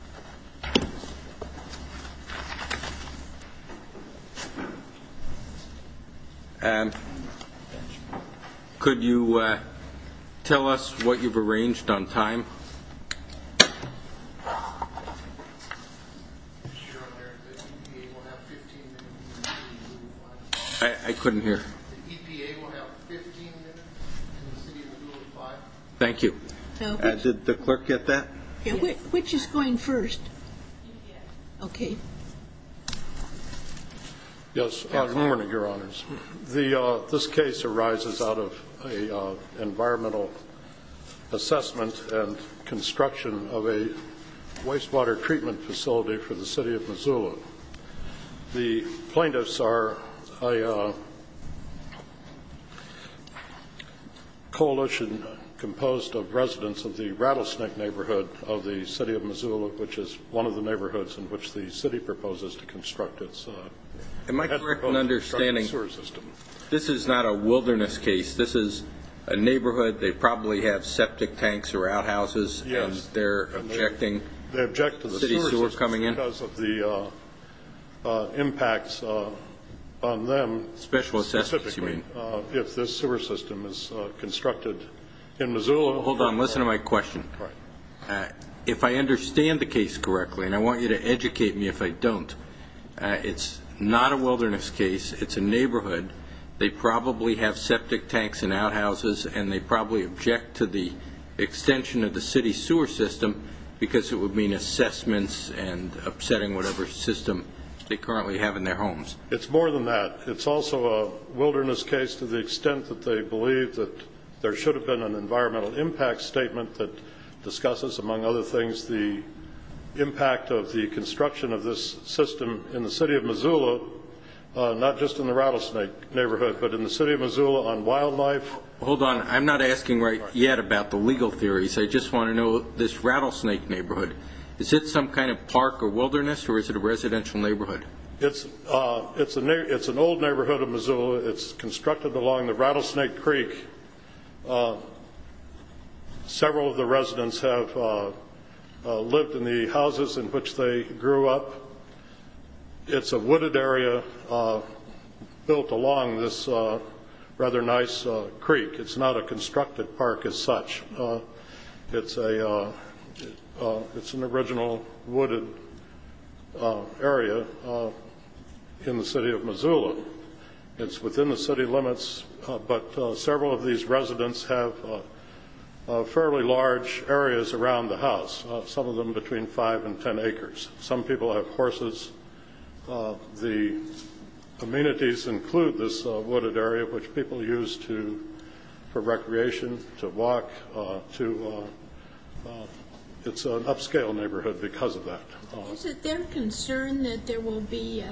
Environmental Protection Agency. And could you tell us what you've arranged on time? I couldn't hear. Thank you. Did the clerk get that? Which is going first? Okay. Yes, good morning, Your Honors. This case arises out of an environmental assessment and construction of a wastewater treatment facility for the city of Missoula. The plaintiffs are a coalition composed of residents of the Rattlesnake neighborhood of the city of Missoula, which is one of the neighborhoods in which the city proposes to construct its headwater sewer system. Am I correct in understanding this is not a wilderness case? This is a neighborhood. They probably have septic tanks or outhouses. Yes. And they're objecting city sewer coming in? Because of the impacts on them. Special assessments, you mean? If this sewer system is constructed in Missoula. Hold on. Listen to my question. If I understand the case correctly, and I want you to educate me if I don't, it's not a wilderness case. It's a neighborhood. They probably have septic tanks and outhouses, and they probably object to the extension of the city sewer system because it would mean assessments and upsetting whatever system they currently have in their homes. It's more than that. It's also a wilderness case to the extent that they believe that there should have been an environmental impact statement that discusses, among other things, the impact of the construction of this system in the city of Missoula, not just in the Rattlesnake neighborhood, but in the city of Missoula on wildlife. Hold on. I'm not asking right yet about the legal theories. I just want to know, this Rattlesnake neighborhood, is it some kind of park or wilderness, or is it a residential neighborhood? It's an old neighborhood of Missoula. It's constructed along the Rattlesnake Creek. Several of the residents have lived in the houses in which they grew up. It's a wooded area built along this rather nice creek. It's not a constructed park as such. It's an original wooded area in the city of Missoula. It's within the city limits, but several of these residents have fairly large areas around the house, some of them between five and ten acres. Some people have horses. The amenities include this wooded area, which people use for recreation, to walk. It's an upscale neighborhood because of that. Is it their concern that there will be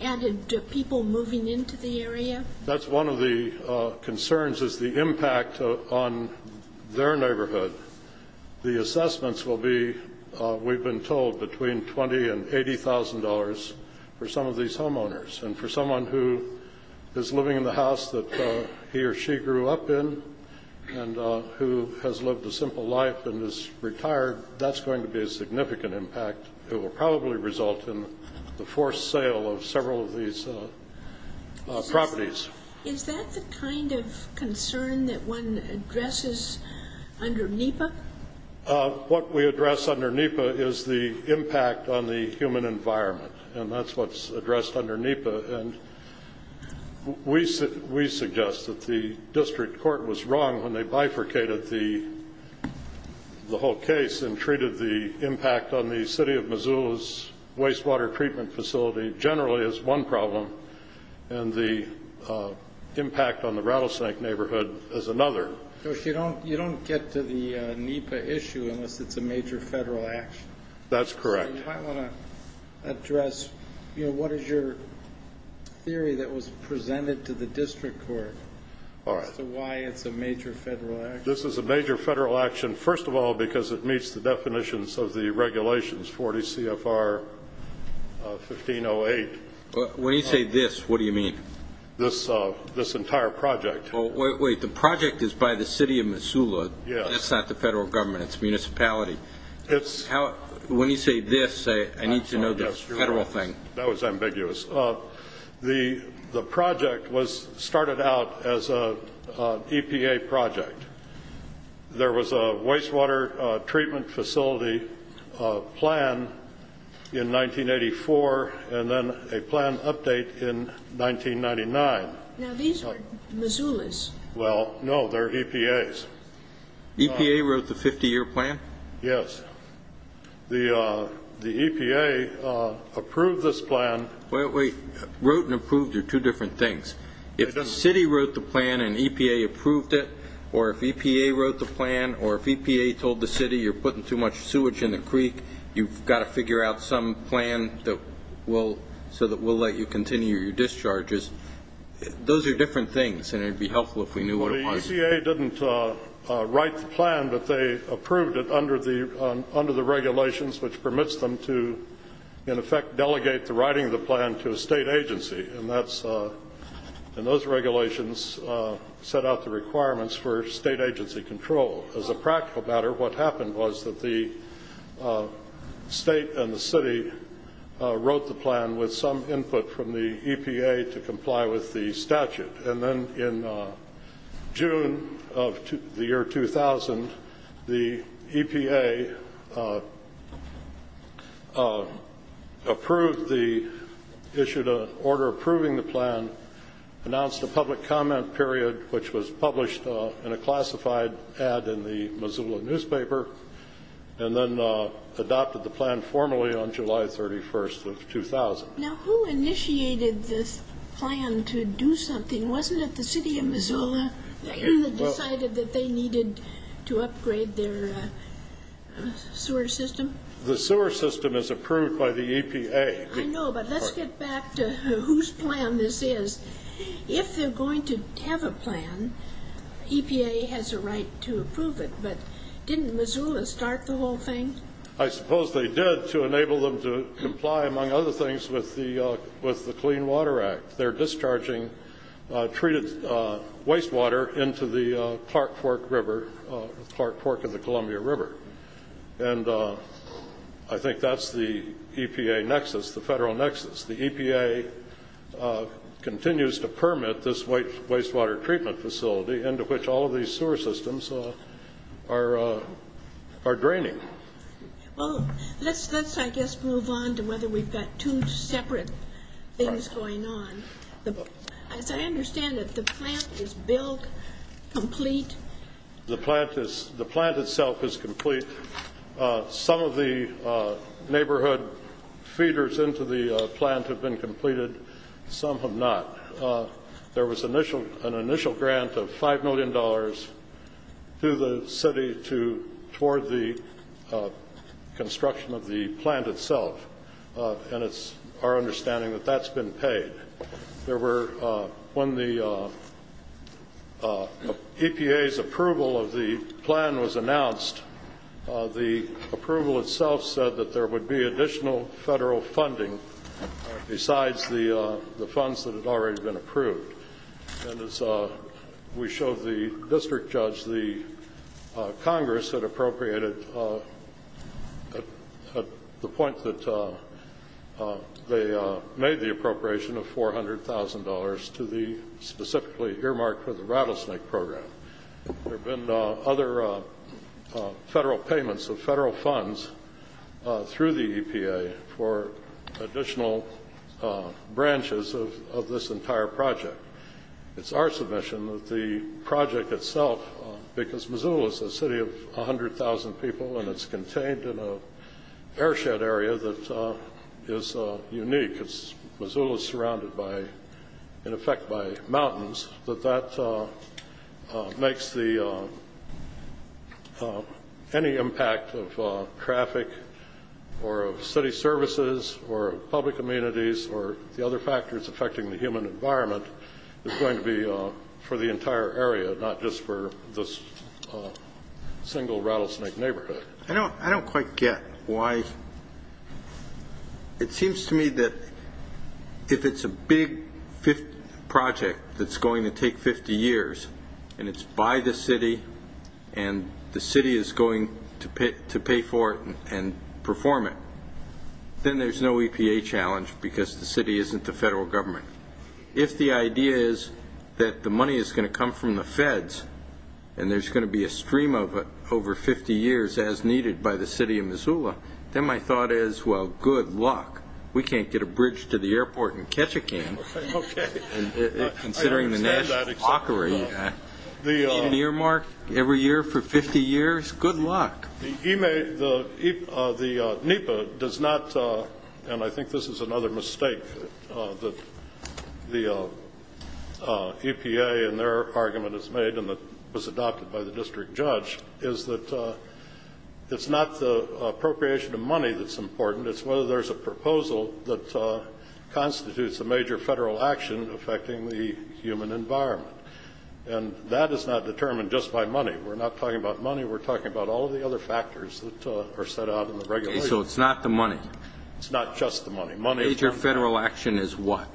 added people moving into the area? That's one of the concerns, is the impact on their neighborhood. The assessments will be, we've been told, between $20,000 and $80,000 for some of these homeowners. And for someone who is living in the house that he or she grew up in and who has lived a simple life and is retired, that's going to be a significant impact. It will probably result in the forced sale of several of these properties. Is that the kind of concern that one addresses under NEPA? What we address under NEPA is the impact on the human environment, and that's what's addressed under NEPA. And we suggest that the district court was wrong when they bifurcated the whole case and treated the impact on the city of Missoula's wastewater treatment facility generally as one problem, and the impact on the Rattlesnake neighborhood as another. You don't get to the NEPA issue unless it's a major federal action. That's correct. You might want to address what is your theory that was presented to the district court as to why it's a major federal action. This is a major federal action, first of all, because it meets the definitions of the regulations, 40 CFR 1508. When you say this, what do you mean? This entire project. Wait. The project is by the city of Missoula. Yes. That's not the federal government. It's municipality. When you say this, I need to know this federal thing. That was ambiguous. The project started out as an EPA project. There was a wastewater treatment facility plan in 1984 and then a plan update in 1999. Now, these are Missoula's. Well, no, they're EPA's. EPA wrote the 50-year plan? Yes. The EPA approved this plan. Wait. Wrote and approved are two different things. If the city wrote the plan and EPA approved it or if EPA wrote the plan or if EPA told the city you're putting too much sewage in the creek, you've got to figure out some plan so that we'll let you continue your discharges, those are different things, and it would be helpful if we knew what it was. Well, the EPA didn't write the plan, but they approved it under the regulations, which permits them to, in effect, delegate the writing of the plan to a state agency, and those regulations set out the requirements for state agency control. As a practical matter, what happened was that the state and the city wrote the plan with some input from the EPA to comply with the statute, and then in June of the year 2000, the EPA approved the issue to order approving the plan, announced a public comment period, which was published in a classified ad in the Missoula newspaper, and then adopted the plan formally on July 31st of 2000. Now, who initiated this plan to do something? Wasn't it the city of Missoula that decided that they needed to upgrade their sewer system? The sewer system is approved by the EPA. I know, but let's get back to whose plan this is. If they're going to have a plan, EPA has a right to approve it, but didn't Missoula start the whole thing? I suppose they did to enable them to comply, among other things, with the Clean Water Act. They're discharging treated wastewater into the Clark Fork River, Clark Fork and the Columbia River, and I think that's the EPA nexus, the federal nexus. The EPA continues to permit this wastewater treatment facility into which all of these sewer systems are draining. Well, let's, I guess, move on to whether we've got two separate things going on. As I understand it, the plant is built complete? The plant itself is complete. Some of the neighborhood feeders into the plant have been completed. Some have not. There was an initial grant of $5 million to the city toward the construction of the plant itself, and it's our understanding that that's been paid. There were, when the EPA's approval of the plan was announced, the approval itself said that there would be additional federal funding besides the funds that had already been approved. And as we showed the district judge, the Congress had appropriated at the point that they made the appropriation of $400,000 to the specifically earmarked for the rattlesnake program. There have been other federal payments of federal funds through the EPA for additional branches of this entire project. It's our submission that the project itself, because Missoula is a city of 100,000 people and it's contained in an airshed area that is unique, because Missoula is surrounded by, in effect, by mountains, that that makes any impact of traffic or of city services or of public amenities or the other factors affecting the human environment is going to be for the entire area, not just for this single rattlesnake neighborhood. I don't quite get why. It seems to me that if it's a big project that's going to take 50 years and it's by the city and the city is going to pay for it and perform it, then there's no EPA challenge because the city isn't the federal government. If the idea is that the money is going to come from the feds and there's going to be a stream of it over 50 years as needed by the city of Missoula, then my thought is, well, good luck. We can't get a bridge to the airport and catch a can. Okay. Considering the national hockery, an earmark every year for 50 years, good luck. The NEPA does not, and I think this is another mistake that the EPA in their argument has made and that was adopted by the district judge, is that it's not the appropriation of money that's important, it's whether there's a proposal that constitutes a major federal action affecting the human environment. And that is not determined just by money. We're not talking about money. We're talking about all of the other factors that are set out in the regulations. Okay. So it's not the money. It's not just the money. Major federal action is what?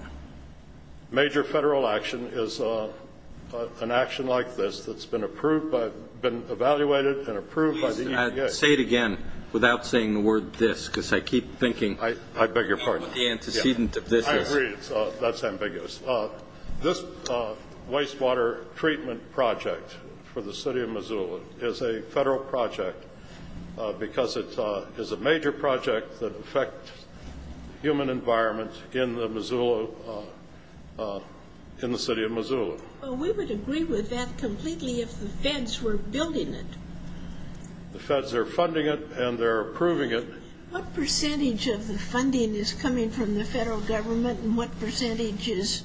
Major federal action is an action like this that's been evaluated and approved by the EPA. Please say it again without saying the word this because I keep thinking what the antecedent of this is. I agree. That's ambiguous. This wastewater treatment project for the city of Missoula is a federal project because it is a major project that affects the human environment in the city of Missoula. Well, we would agree with that completely if the feds were building it. The feds are funding it and they're approving it. What percentage of the funding is coming from the federal government and what percentage is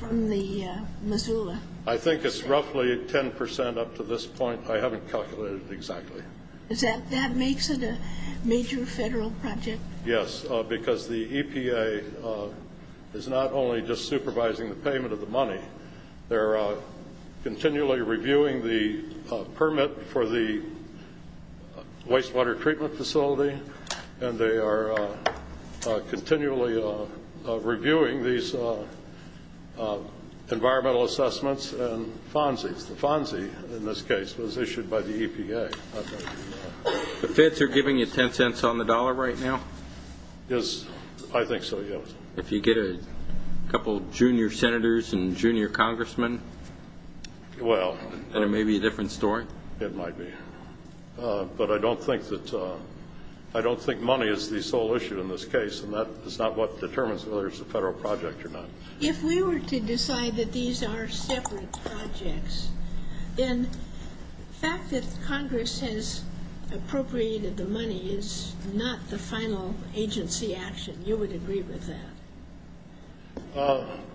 from the Missoula? I think it's roughly 10% up to this point. I haven't calculated exactly. That makes it a major federal project? Yes, because the EPA is not only just supervising the payment of the money. They're continually reviewing the permit for the wastewater treatment facility and they are continually reviewing these environmental assessments and FONSIs. The FONSI, in this case, was issued by the EPA. The feds are giving you 10 cents on the dollar right now? I think so, yes. If you get a couple junior senators and junior congressmen, then it may be a different story. It might be. But I don't think money is the sole issue in this case, and that is not what determines whether it's a federal project or not. If we were to decide that these are separate projects, then the fact that Congress has appropriated the money is not the final agency action. You would agree with that?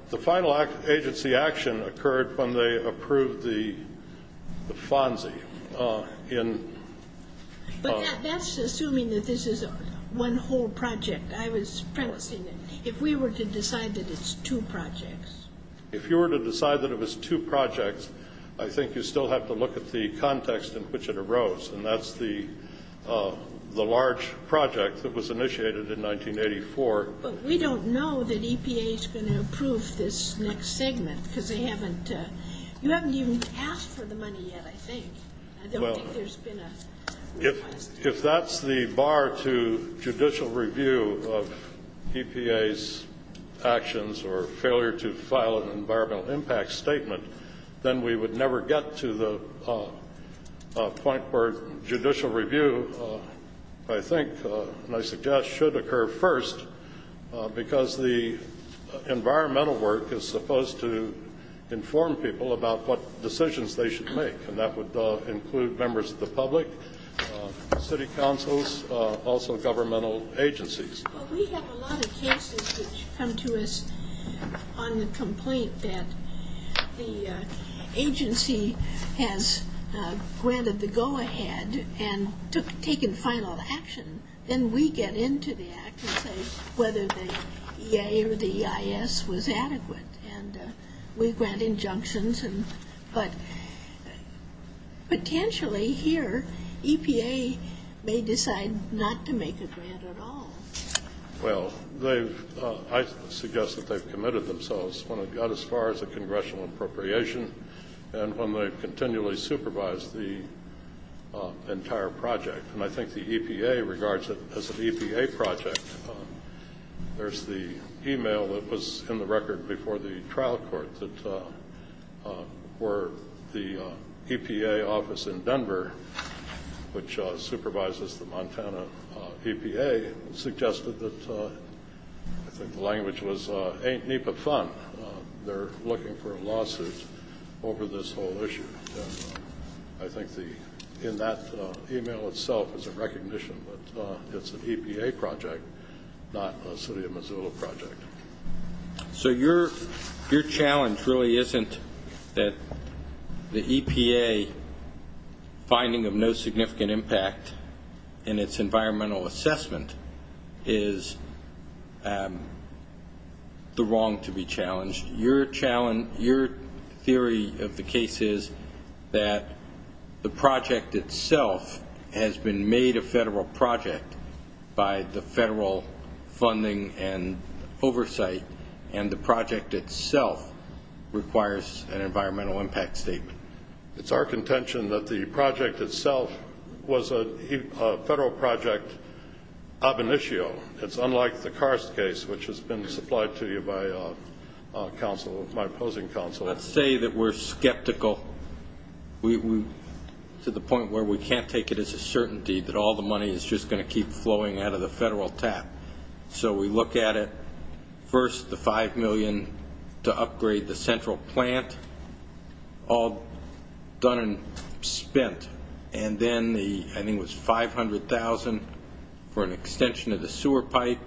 The final agency action occurred when they approved the FONSI. But that's assuming that this is one whole project. I was promising that if we were to decide that it's two projects. If you were to decide that it was two projects, I think you still have to look at the context in which it arose, and that's the large project that was initiated in 1984. But we don't know that EPA is going to approve this next segment, because you haven't even asked for the money yet, I think. I don't think there's been a request. If that's the bar to judicial review of EPA's actions or failure to file an environmental impact statement, then we would never get to the point where judicial review, I think, and I suggest should occur first, because the environmental work is supposed to inform people about what decisions they should make, and that would include members of the public, city councils, also governmental agencies. Well, we have a lot of cases which come to us on the complaint that the agency has granted the go-ahead and taken final action. Then we get into the act and say whether the EA or the EIS was adequate, and we grant injunctions. But potentially here, EPA may decide not to make a grant at all. Well, I suggest that they've committed themselves when it got as far as the congressional appropriation and when they've continually supervised the entire project. And I think the EPA regards it as an EPA project. There's the e-mail that was in the record before the trial court that the EPA office in Denver, which supervises the Montana EPA, suggested that, I think the language was, ain't NEPA fun, they're looking for a lawsuit over this whole issue. I think in that e-mail itself is a recognition that it's an EPA project, not a city of Missoula project. So your challenge really isn't that the EPA finding of no significant impact in its environmental assessment is the wrong to be challenged. Your theory of the case is that the project itself has been made a federal project by the federal funding and oversight, and the project itself requires an environmental impact statement. It's our contention that the project itself was a federal project ab initio. It's unlike the Karst case, which has been supplied to you by my opposing counsel. Let's say that we're skeptical to the point where we can't take it as a certainty that all the money is just going to keep flowing out of the federal tap. So we look at it, first the $5 million to upgrade the central plant, all done and spent, and then I think it was $500,000 for an extension of the sewer pipe.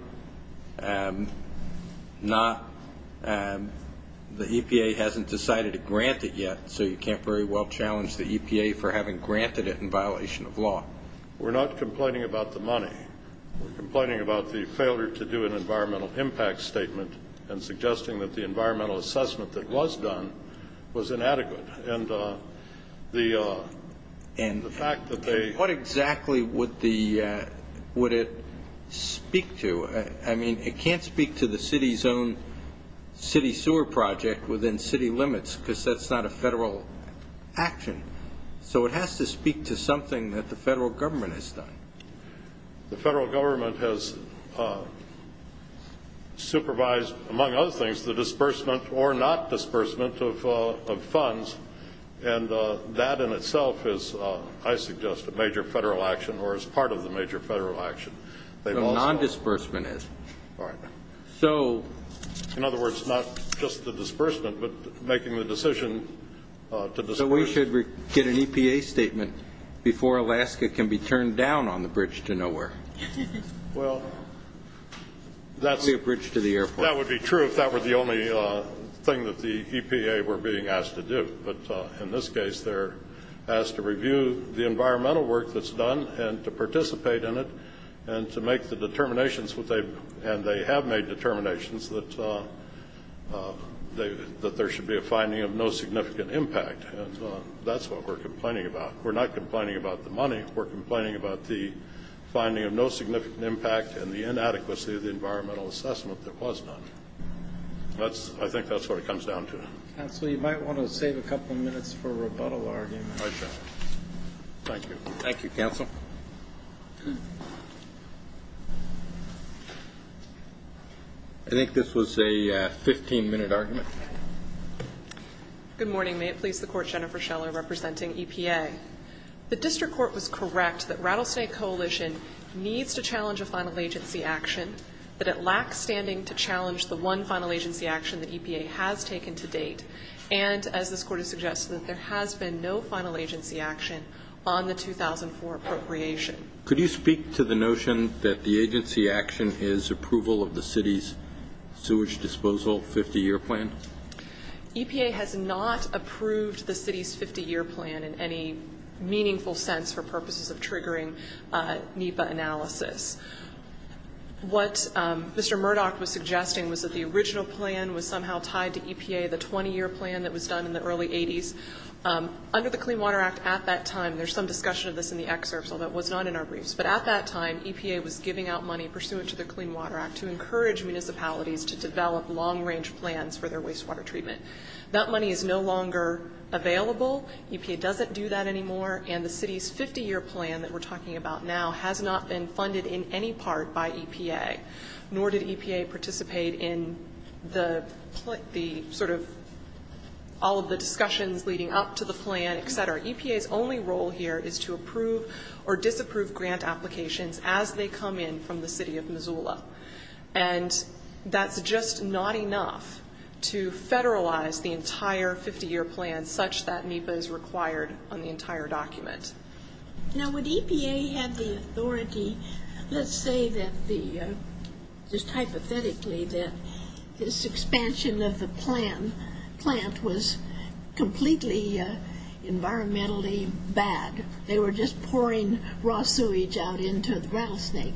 The EPA hasn't decided to grant it yet, so you can't very well challenge the EPA for having granted it in violation of law. We're not complaining about the money. We're complaining about the failure to do an environmental impact statement and suggesting that the environmental assessment that was done was inadequate. And what exactly would it speak to? I mean, it can't speak to the city's own city sewer project within city limits because that's not a federal action. So it has to speak to something that the federal government has done. The federal government has supervised, among other things, the disbursement or not disbursement of funds, and that in itself is, I suggest, a major federal action or is part of the major federal action. So non-disbursement is. All right. In other words, not just the disbursement, but making the decision to disburse. So we should get an EPA statement before Alaska can be turned down on the bridge to nowhere. Well, that's. The bridge to the airport. That would be true if that were the only thing that the EPA were being asked to do. But in this case, they're asked to review the environmental work that's done and to participate in it and to make the determinations, and they have made determinations that there should be a finding of no significant impact. And that's what we're complaining about. We're not complaining about the money. We're complaining about the finding of no significant impact and the inadequacy of the environmental assessment that was done. I think that's what it comes down to. Counsel, you might want to save a couple minutes for a rebuttal argument. I shall. Thank you. Thank you, counsel. I think this was a 15-minute argument. Good morning. May it please the Court, Jennifer Scheller representing EPA. The district court was correct that Rattlesnake Coalition needs to challenge a final agency action, that it lacks standing to challenge the one final agency action that EPA has taken to date, and as this Court has suggested, that there has been no final agency action on the 2004 appropriation. Could you speak to the notion that the agency action is approval of the city's sewage disposal 50-year plan? EPA has not approved the city's 50-year plan in any meaningful sense for purposes of triggering NEPA analysis. What Mr. Murdoch was suggesting was that the original plan was somehow tied to EPA, the 20-year plan that was done in the early 80s. Under the Clean Water Act at that time, there's some discussion of this in the excerpts, although it was not in our briefs, but at that time EPA was giving out money pursuant to the Clean Water Act to encourage municipalities to develop long-range plans for their wastewater treatment. That money is no longer available. EPA doesn't do that anymore, and the city's 50-year plan that we're talking about now has not been funded in any part by EPA, nor did EPA participate in the sort of all of the discussions leading up to the plan, et cetera. EPA's only role here is to approve or disapprove grant applications as they come in from the city of Missoula, and that's just not enough to federalize the entire 50-year plan such that NEPA is required on the entire document. Now, when EPA had the authority, let's say that the, just hypothetically, that this expansion of the plant was completely environmentally bad. They were just pouring raw sewage out into the rattlesnake.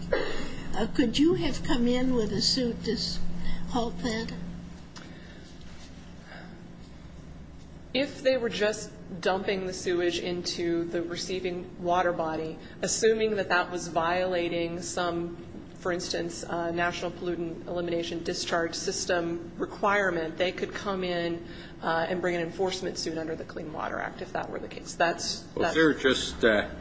Could you have come in with a suit to halt that? If they were just dumping the sewage into the receiving water body, assuming that that was violating some, for instance, national pollutant elimination discharge system requirement, they could come in and bring an enforcement suit under the Clean Water Act, if that were the case. That's the purpose. Well, if they were just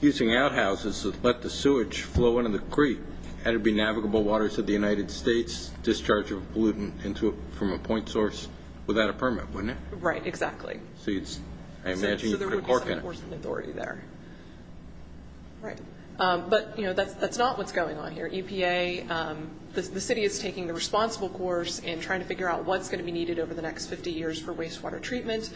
using outhouses to let the sewage flow into the creek, had it been navigable waters of the United States, discharge of pollutant from a point source without a permit, wouldn't it? Right, exactly. So I imagine you could have cork in it. So there would be some enforcement authority there. Right. But that's not what's going on here. EPA, the city is taking the responsible course in trying to figure out what's going to be needed over the next 50 years for wastewater treatment.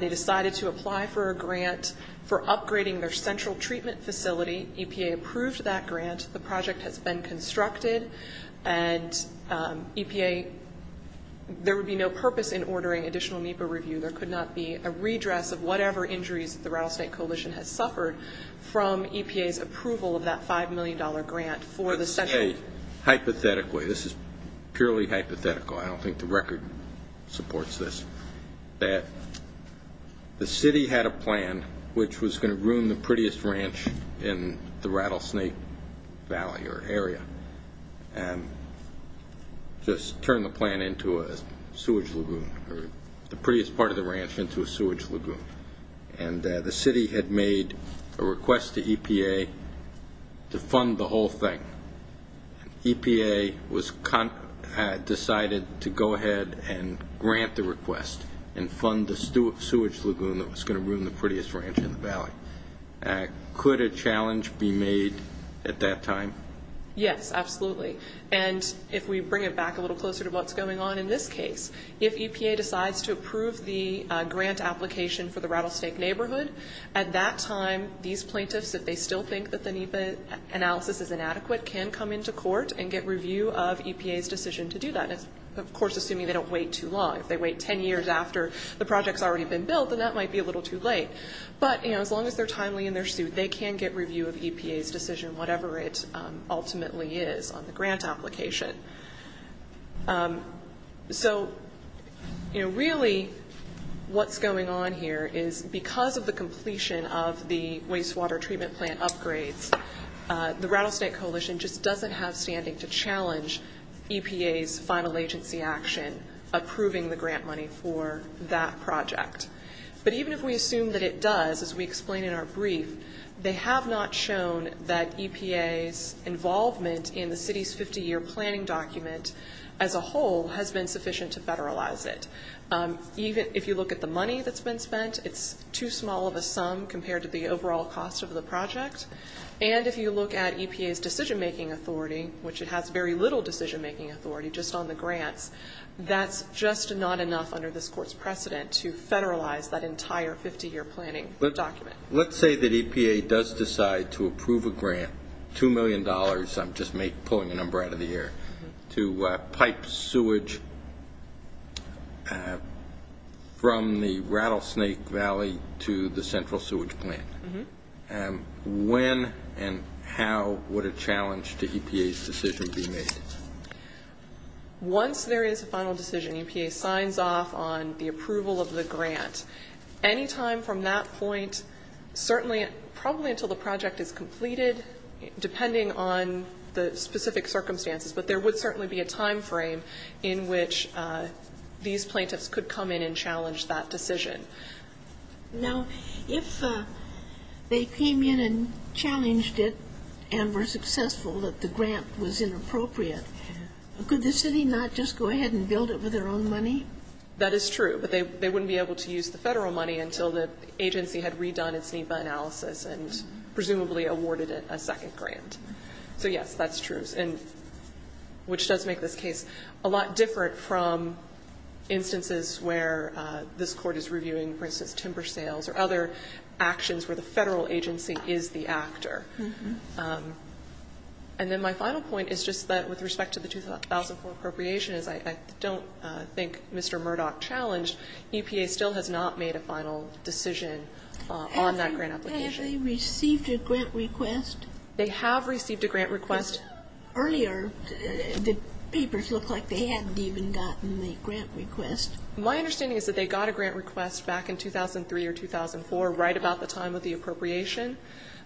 They decided to apply for a grant for upgrading their central treatment facility. EPA approved that grant. The project has been constructed. And EPA, there would be no purpose in ordering additional NEPA review. There could not be a redress of whatever injuries that the Rattlesnake Coalition has suffered from EPA's approval of that $5 million grant for the central. Hey, hypothetically, this is purely hypothetical, I don't think the record supports this, that the city had a plan which was going to ruin the prettiest ranch in the Rattlesnake Valley or area and just turn the plant into a sewage lagoon or the prettiest part of the ranch into a sewage lagoon. And the city had made a request to EPA to fund the whole thing. EPA decided to go ahead and grant the request and fund the sewage lagoon that was going to ruin the prettiest ranch in the valley. Could a challenge be made at that time? Yes, absolutely. And if we bring it back a little closer to what's going on in this case, if EPA decides to approve the grant application for the Rattlesnake neighborhood, at that time, these plaintiffs, if they still think that the NEPA analysis is inadequate, can come into court and get review of EPA's decision to do that. Of course, assuming they don't wait too long. If they wait 10 years after the project's already been built, then that might be a little too late. But, you know, as long as they're timely in their suit, they can get review of EPA's decision, whatever it ultimately is on the grant application. So, you know, really what's going on here is because of the completion of the wastewater treatment plant upgrades, the Rattlesnake Coalition just doesn't have standing to challenge EPA's final agency action, approving the grant money for that project. But even if we assume that it does, as we explain in our brief, they have not shown that EPA's involvement in the city's 50-year planning document as a whole has been sufficient to federalize it. Even if you look at the money that's been spent, it's too small of a sum compared to the overall cost of the project. And if you look at EPA's decision-making authority, which it has very little decision-making authority, just on the grants, that's just not enough under this court's precedent to federalize that entire 50-year planning document. Let's say that EPA does decide to approve a grant, $2 million, I'm just pulling a number out of the air, to pipe sewage from the Rattlesnake Valley to the central sewage plant. When and how would a challenge to EPA's decision be made? Once there is a final decision, EPA signs off on the approval of the grant. Any time from that point, certainly, probably until the project is completed, depending on the specific circumstances, but there would certainly be a time frame in which these plaintiffs could come in and challenge that decision. Now, if they came in and challenged it and were successful, that the grant was inappropriate, could the city not just go ahead and build it with their own money? That is true, but they wouldn't be able to use the Federal money until the agency had redone its NEPA analysis and presumably awarded it a second grant. So, yes, that's true, and which does make this case a lot different from instances where this Court is reviewing, for instance, timber sales or other actions where the Federal agency is the actor. And then my final point is just that with respect to the 2004 appropriation as I don't think Mr. Murdoch challenged, EPA still has not made a final decision on that grant application. Have they received a grant request? They have received a grant request. Earlier, the papers looked like they hadn't even gotten the grant request. My understanding is that they got a grant request back in 2003 or 2004, right about the time of the appropriation,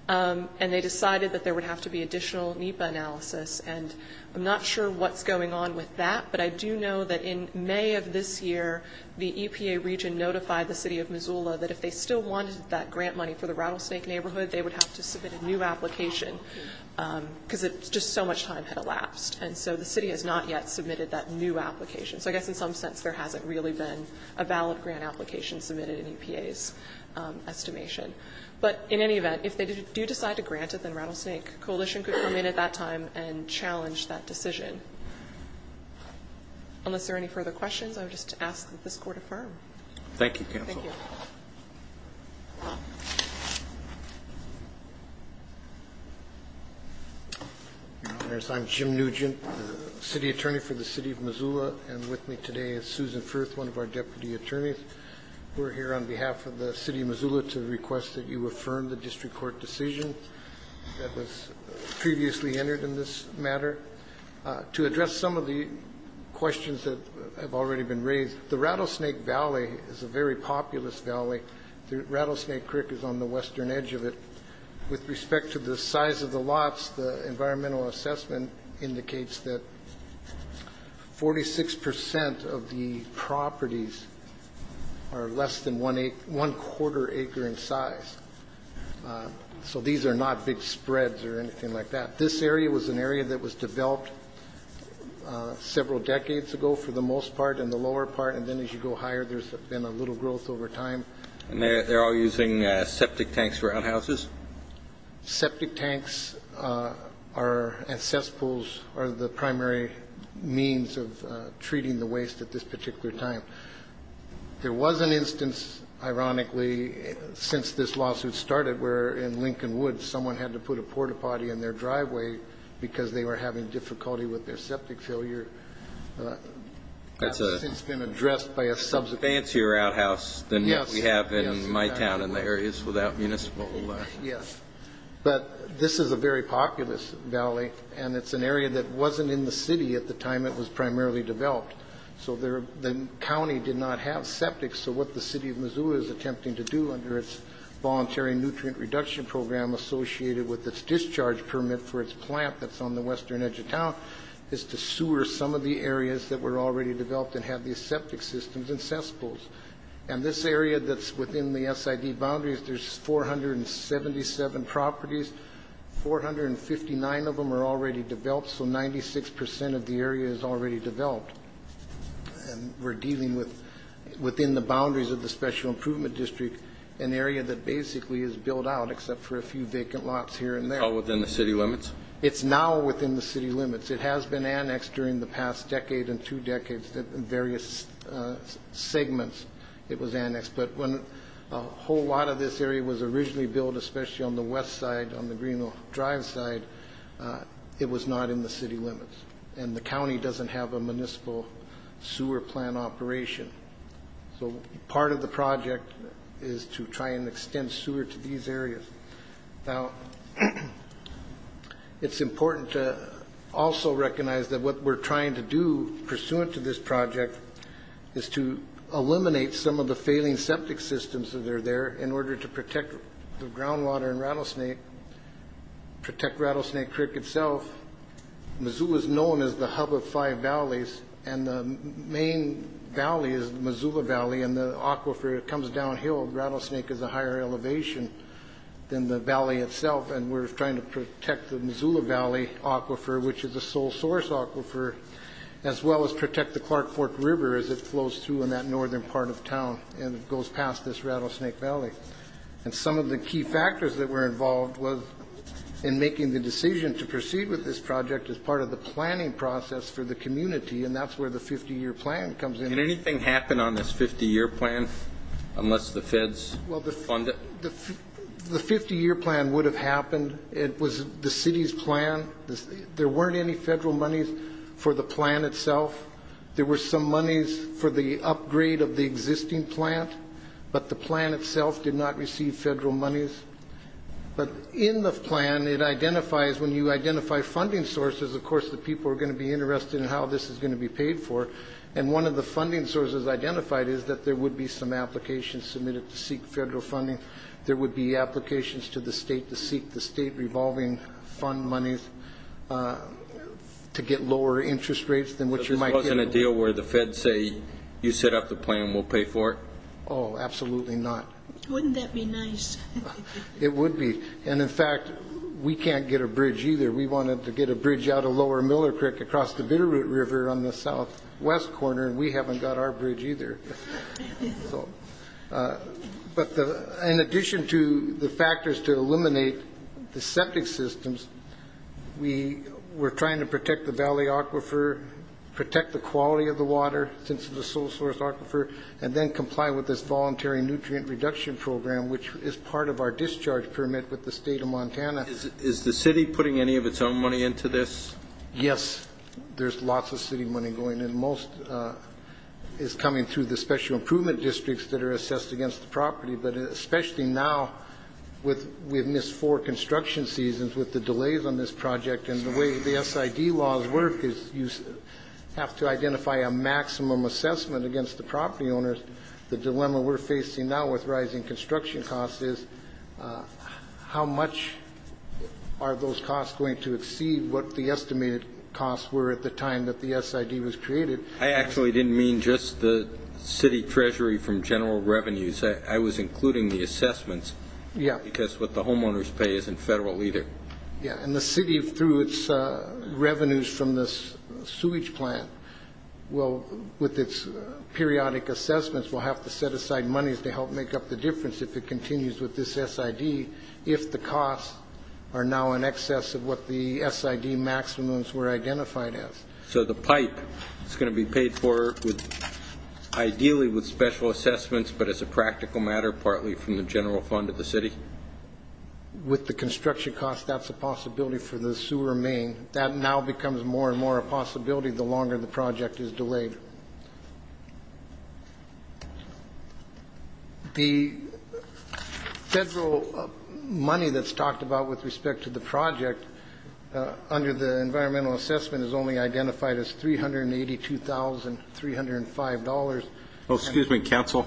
and they decided that there would have to be additional NEPA analysis. And I'm not sure what's going on with that, but I do know that in May of this year, the EPA region notified the City of Missoula that if they still wanted that grant money for the Rattlesnake neighborhood, they would have to submit a new application because just so much time had elapsed. And so the city has not yet submitted that new application. So I guess in some sense there hasn't really been a valid grant application submitted in EPA's estimation. But in any event, if they do decide to grant it, then Rattlesnake Coalition could come in at that time and challenge that decision. Unless there are any further questions, I would just ask that this Court affirm. Thank you, Counsel. Thank you. Your Honors, I'm Jim Nugent, City Attorney for the City of Missoula, and with me today is Susan Firth, one of our Deputy Attorneys. We're here on behalf of the City of Missoula to request that you affirm the district court decision that was previously entered in this matter. To address some of the questions that have already been raised, the Rattlesnake Valley is a very populous valley. The Rattlesnake Creek is on the western edge of it. With respect to the size of the lots, the environmental assessment indicates that 46% of the properties are less than one-quarter acre in size. So these are not big spreads or anything like that. This area was an area that was developed several decades ago for the most part and the lower part, and then as you go higher, there's been a little growth over time. And they're all using septic tanks for outhouses? Septic tanks and cesspools are the primary means of treating the waste at this particular time. There was an instance, ironically, since this lawsuit started, where in Lincoln Woods someone had to put a port-a-potty in their driveway because they were having difficulty with their septic failure. It's been addressed by a subsequent court. It's a fancier outhouse than what we have in my town and the areas without municipal. Yes. But this is a very populous valley, and it's an area that wasn't in the city at the time it was primarily developed. So the county did not have septic, so what the city of Missoula is attempting to do under its voluntary nutrient reduction program associated with its discharge permit for its plant that's on the western edge of town is to sewer some of the areas that were already developed and have these septic systems and cesspools. And this area that's within the SID boundaries, there's 477 properties. 459 of them are already developed, so 96% of the area is already developed. And we're dealing with, within the boundaries of the Special Improvement District, an area that basically is built out except for a few vacant lots here and there. It's all within the city limits? It's now within the city limits. It has been annexed during the past decade and two decades in various segments it was annexed. But when a whole lot of this area was originally built, especially on the west side on the Greenville Drive side, it was not in the city limits. And the county doesn't have a municipal sewer plant operation. So part of the project is to try and extend sewer to these areas. Now, it's important to also recognize that what we're trying to do pursuant to this project is to eliminate some of the failing septic systems that are there in order to protect the groundwater in Rattlesnake, protect Rattlesnake Creek itself. Missoula is known as the hub of five valleys, and the main valley is the Missoula Valley, and the aquifer comes downhill. Rattlesnake is a higher elevation than the valley itself, and we're trying to protect the Missoula Valley aquifer, which is the sole source aquifer, as well as protect the Clark Fork River as it flows through in that northern part of town and goes past this Rattlesnake Valley. And some of the key factors that were involved was in making the decision to proceed with this project as part of the planning process for the community, and that's where the 50-year plan comes in. Can anything happen on this 50-year plan unless the feds fund it? Well, the 50-year plan would have happened. It was the city's plan. There weren't any federal monies for the plan itself. There were some monies for the upgrade of the existing plan, but the plan itself did not receive federal monies. But in the plan, it identifies when you identify funding sources, of course the people are going to be interested in how this is going to be paid for, and one of the funding sources identified is that there would be some applications submitted to seek federal funding. There would be applications to the state to seek the state revolving fund monies to get lower interest rates than what you might get. So this wasn't a deal where the feds say, you set up the plan, we'll pay for it? Oh, absolutely not. Wouldn't that be nice? It would be. And, in fact, we can't get a bridge either. We wanted to get a bridge out of lower Millard Creek across the Bitterroot River on the southwest corner, and we haven't got our bridge either. But in addition to the factors to eliminate the septic systems, we were trying to protect the valley aquifer, protect the quality of the water since it's a sole source aquifer, and then comply with this voluntary nutrient reduction program, which is part of our discharge permit with the state of Montana. Is the city putting any of its own money into this? Yes. There's lots of city money going in. Most is coming through the special improvement districts that are assessed against the property. But especially now, we've missed four construction seasons with the delays on this project, and the way the SID laws work is you have to identify a maximum assessment against the property owners. The dilemma we're facing now with rising construction costs is how much are those costs going to exceed what the estimated costs were at the time that the SID was created? I actually didn't mean just the city treasury from general revenues. I was including the assessments. Yeah. Because what the homeowners pay isn't federal either. Yeah. And the city, through its revenues from the sewage plant, will, with its periodic assessments, will have to set aside monies to help make up the difference if it continues with this SID if the costs are now in excess of what the SID maximums were identified as. So the pipe is going to be paid for ideally with special assessments, but as a practical matter partly from the general fund of the city? With the construction costs, that's a possibility for the sewer main. That now becomes more and more a possibility the longer the project is delayed. The federal money that's talked about with respect to the project under the environmental assessment is only identified as $382,305. Oh, excuse me, counsel.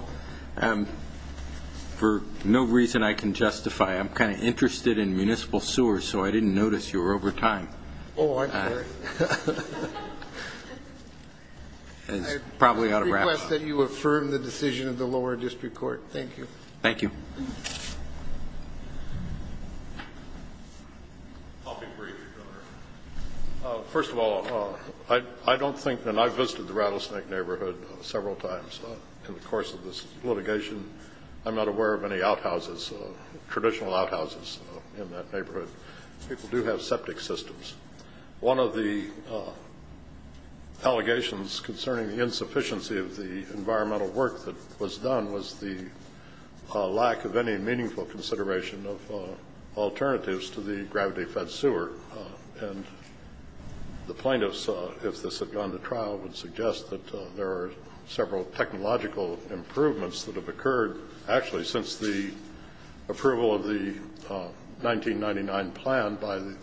For no reason I can justify, I'm kind of interested in municipal sewers, so I didn't notice you were over time. Oh, I'm sorry. I request that you affirm the decision of the lower district court. Thank you. Thank you. I'll be brief. First of all, I don't think, and I've visited the Rattlesnake neighborhood several times in the course of this litigation. I'm not aware of any outhouses, traditional outhouses in that neighborhood. People do have septic systems. One of the allegations concerning the insufficiency of the environmental work that was done was the lack of any meaningful consideration of alternatives to the gravity-fed sewer. And the plaintiffs, if this had gone to trial, would suggest that there are several technological improvements that have occurred, actually, since the approval of the 1999 plan by the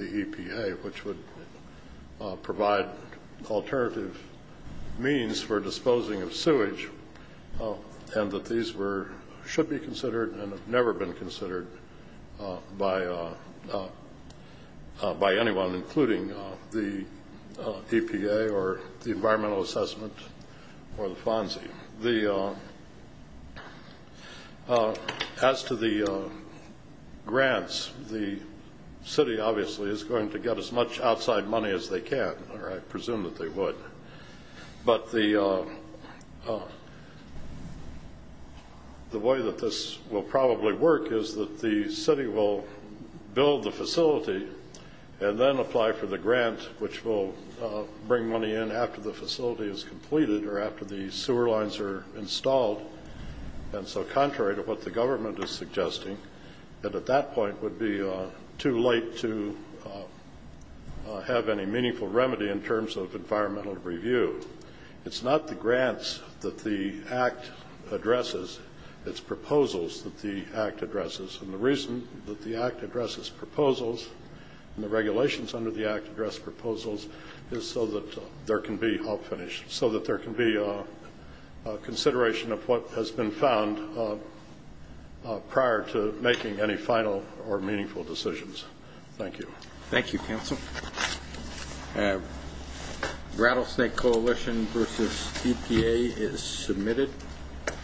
EPA, which would provide alternative means for disposing of sewage, and that these should be considered and have never been considered by anyone, including the EPA or the environmental assessment or the FONSI. As to the grants, the city, obviously, is going to get as much outside money as they can, or I presume that they would. But the way that this will probably work is that the city will build the facility and then apply for the grant, which will bring money in after the facility is completed or after the sewer lines are installed. And so contrary to what the government is suggesting, that at that point would be too late to have any meaningful remedy in terms of environmental review. It's not the grants that the Act addresses. It's proposals that the Act addresses. And the reason that the Act addresses proposals and the regulations under the Act address proposals is so that there can be help finished, so that there can be consideration of what has been found prior to making any final or meaningful decisions. Thank you. Thank you, Counsel. Rattlesnake Coalition versus EPA is submitted.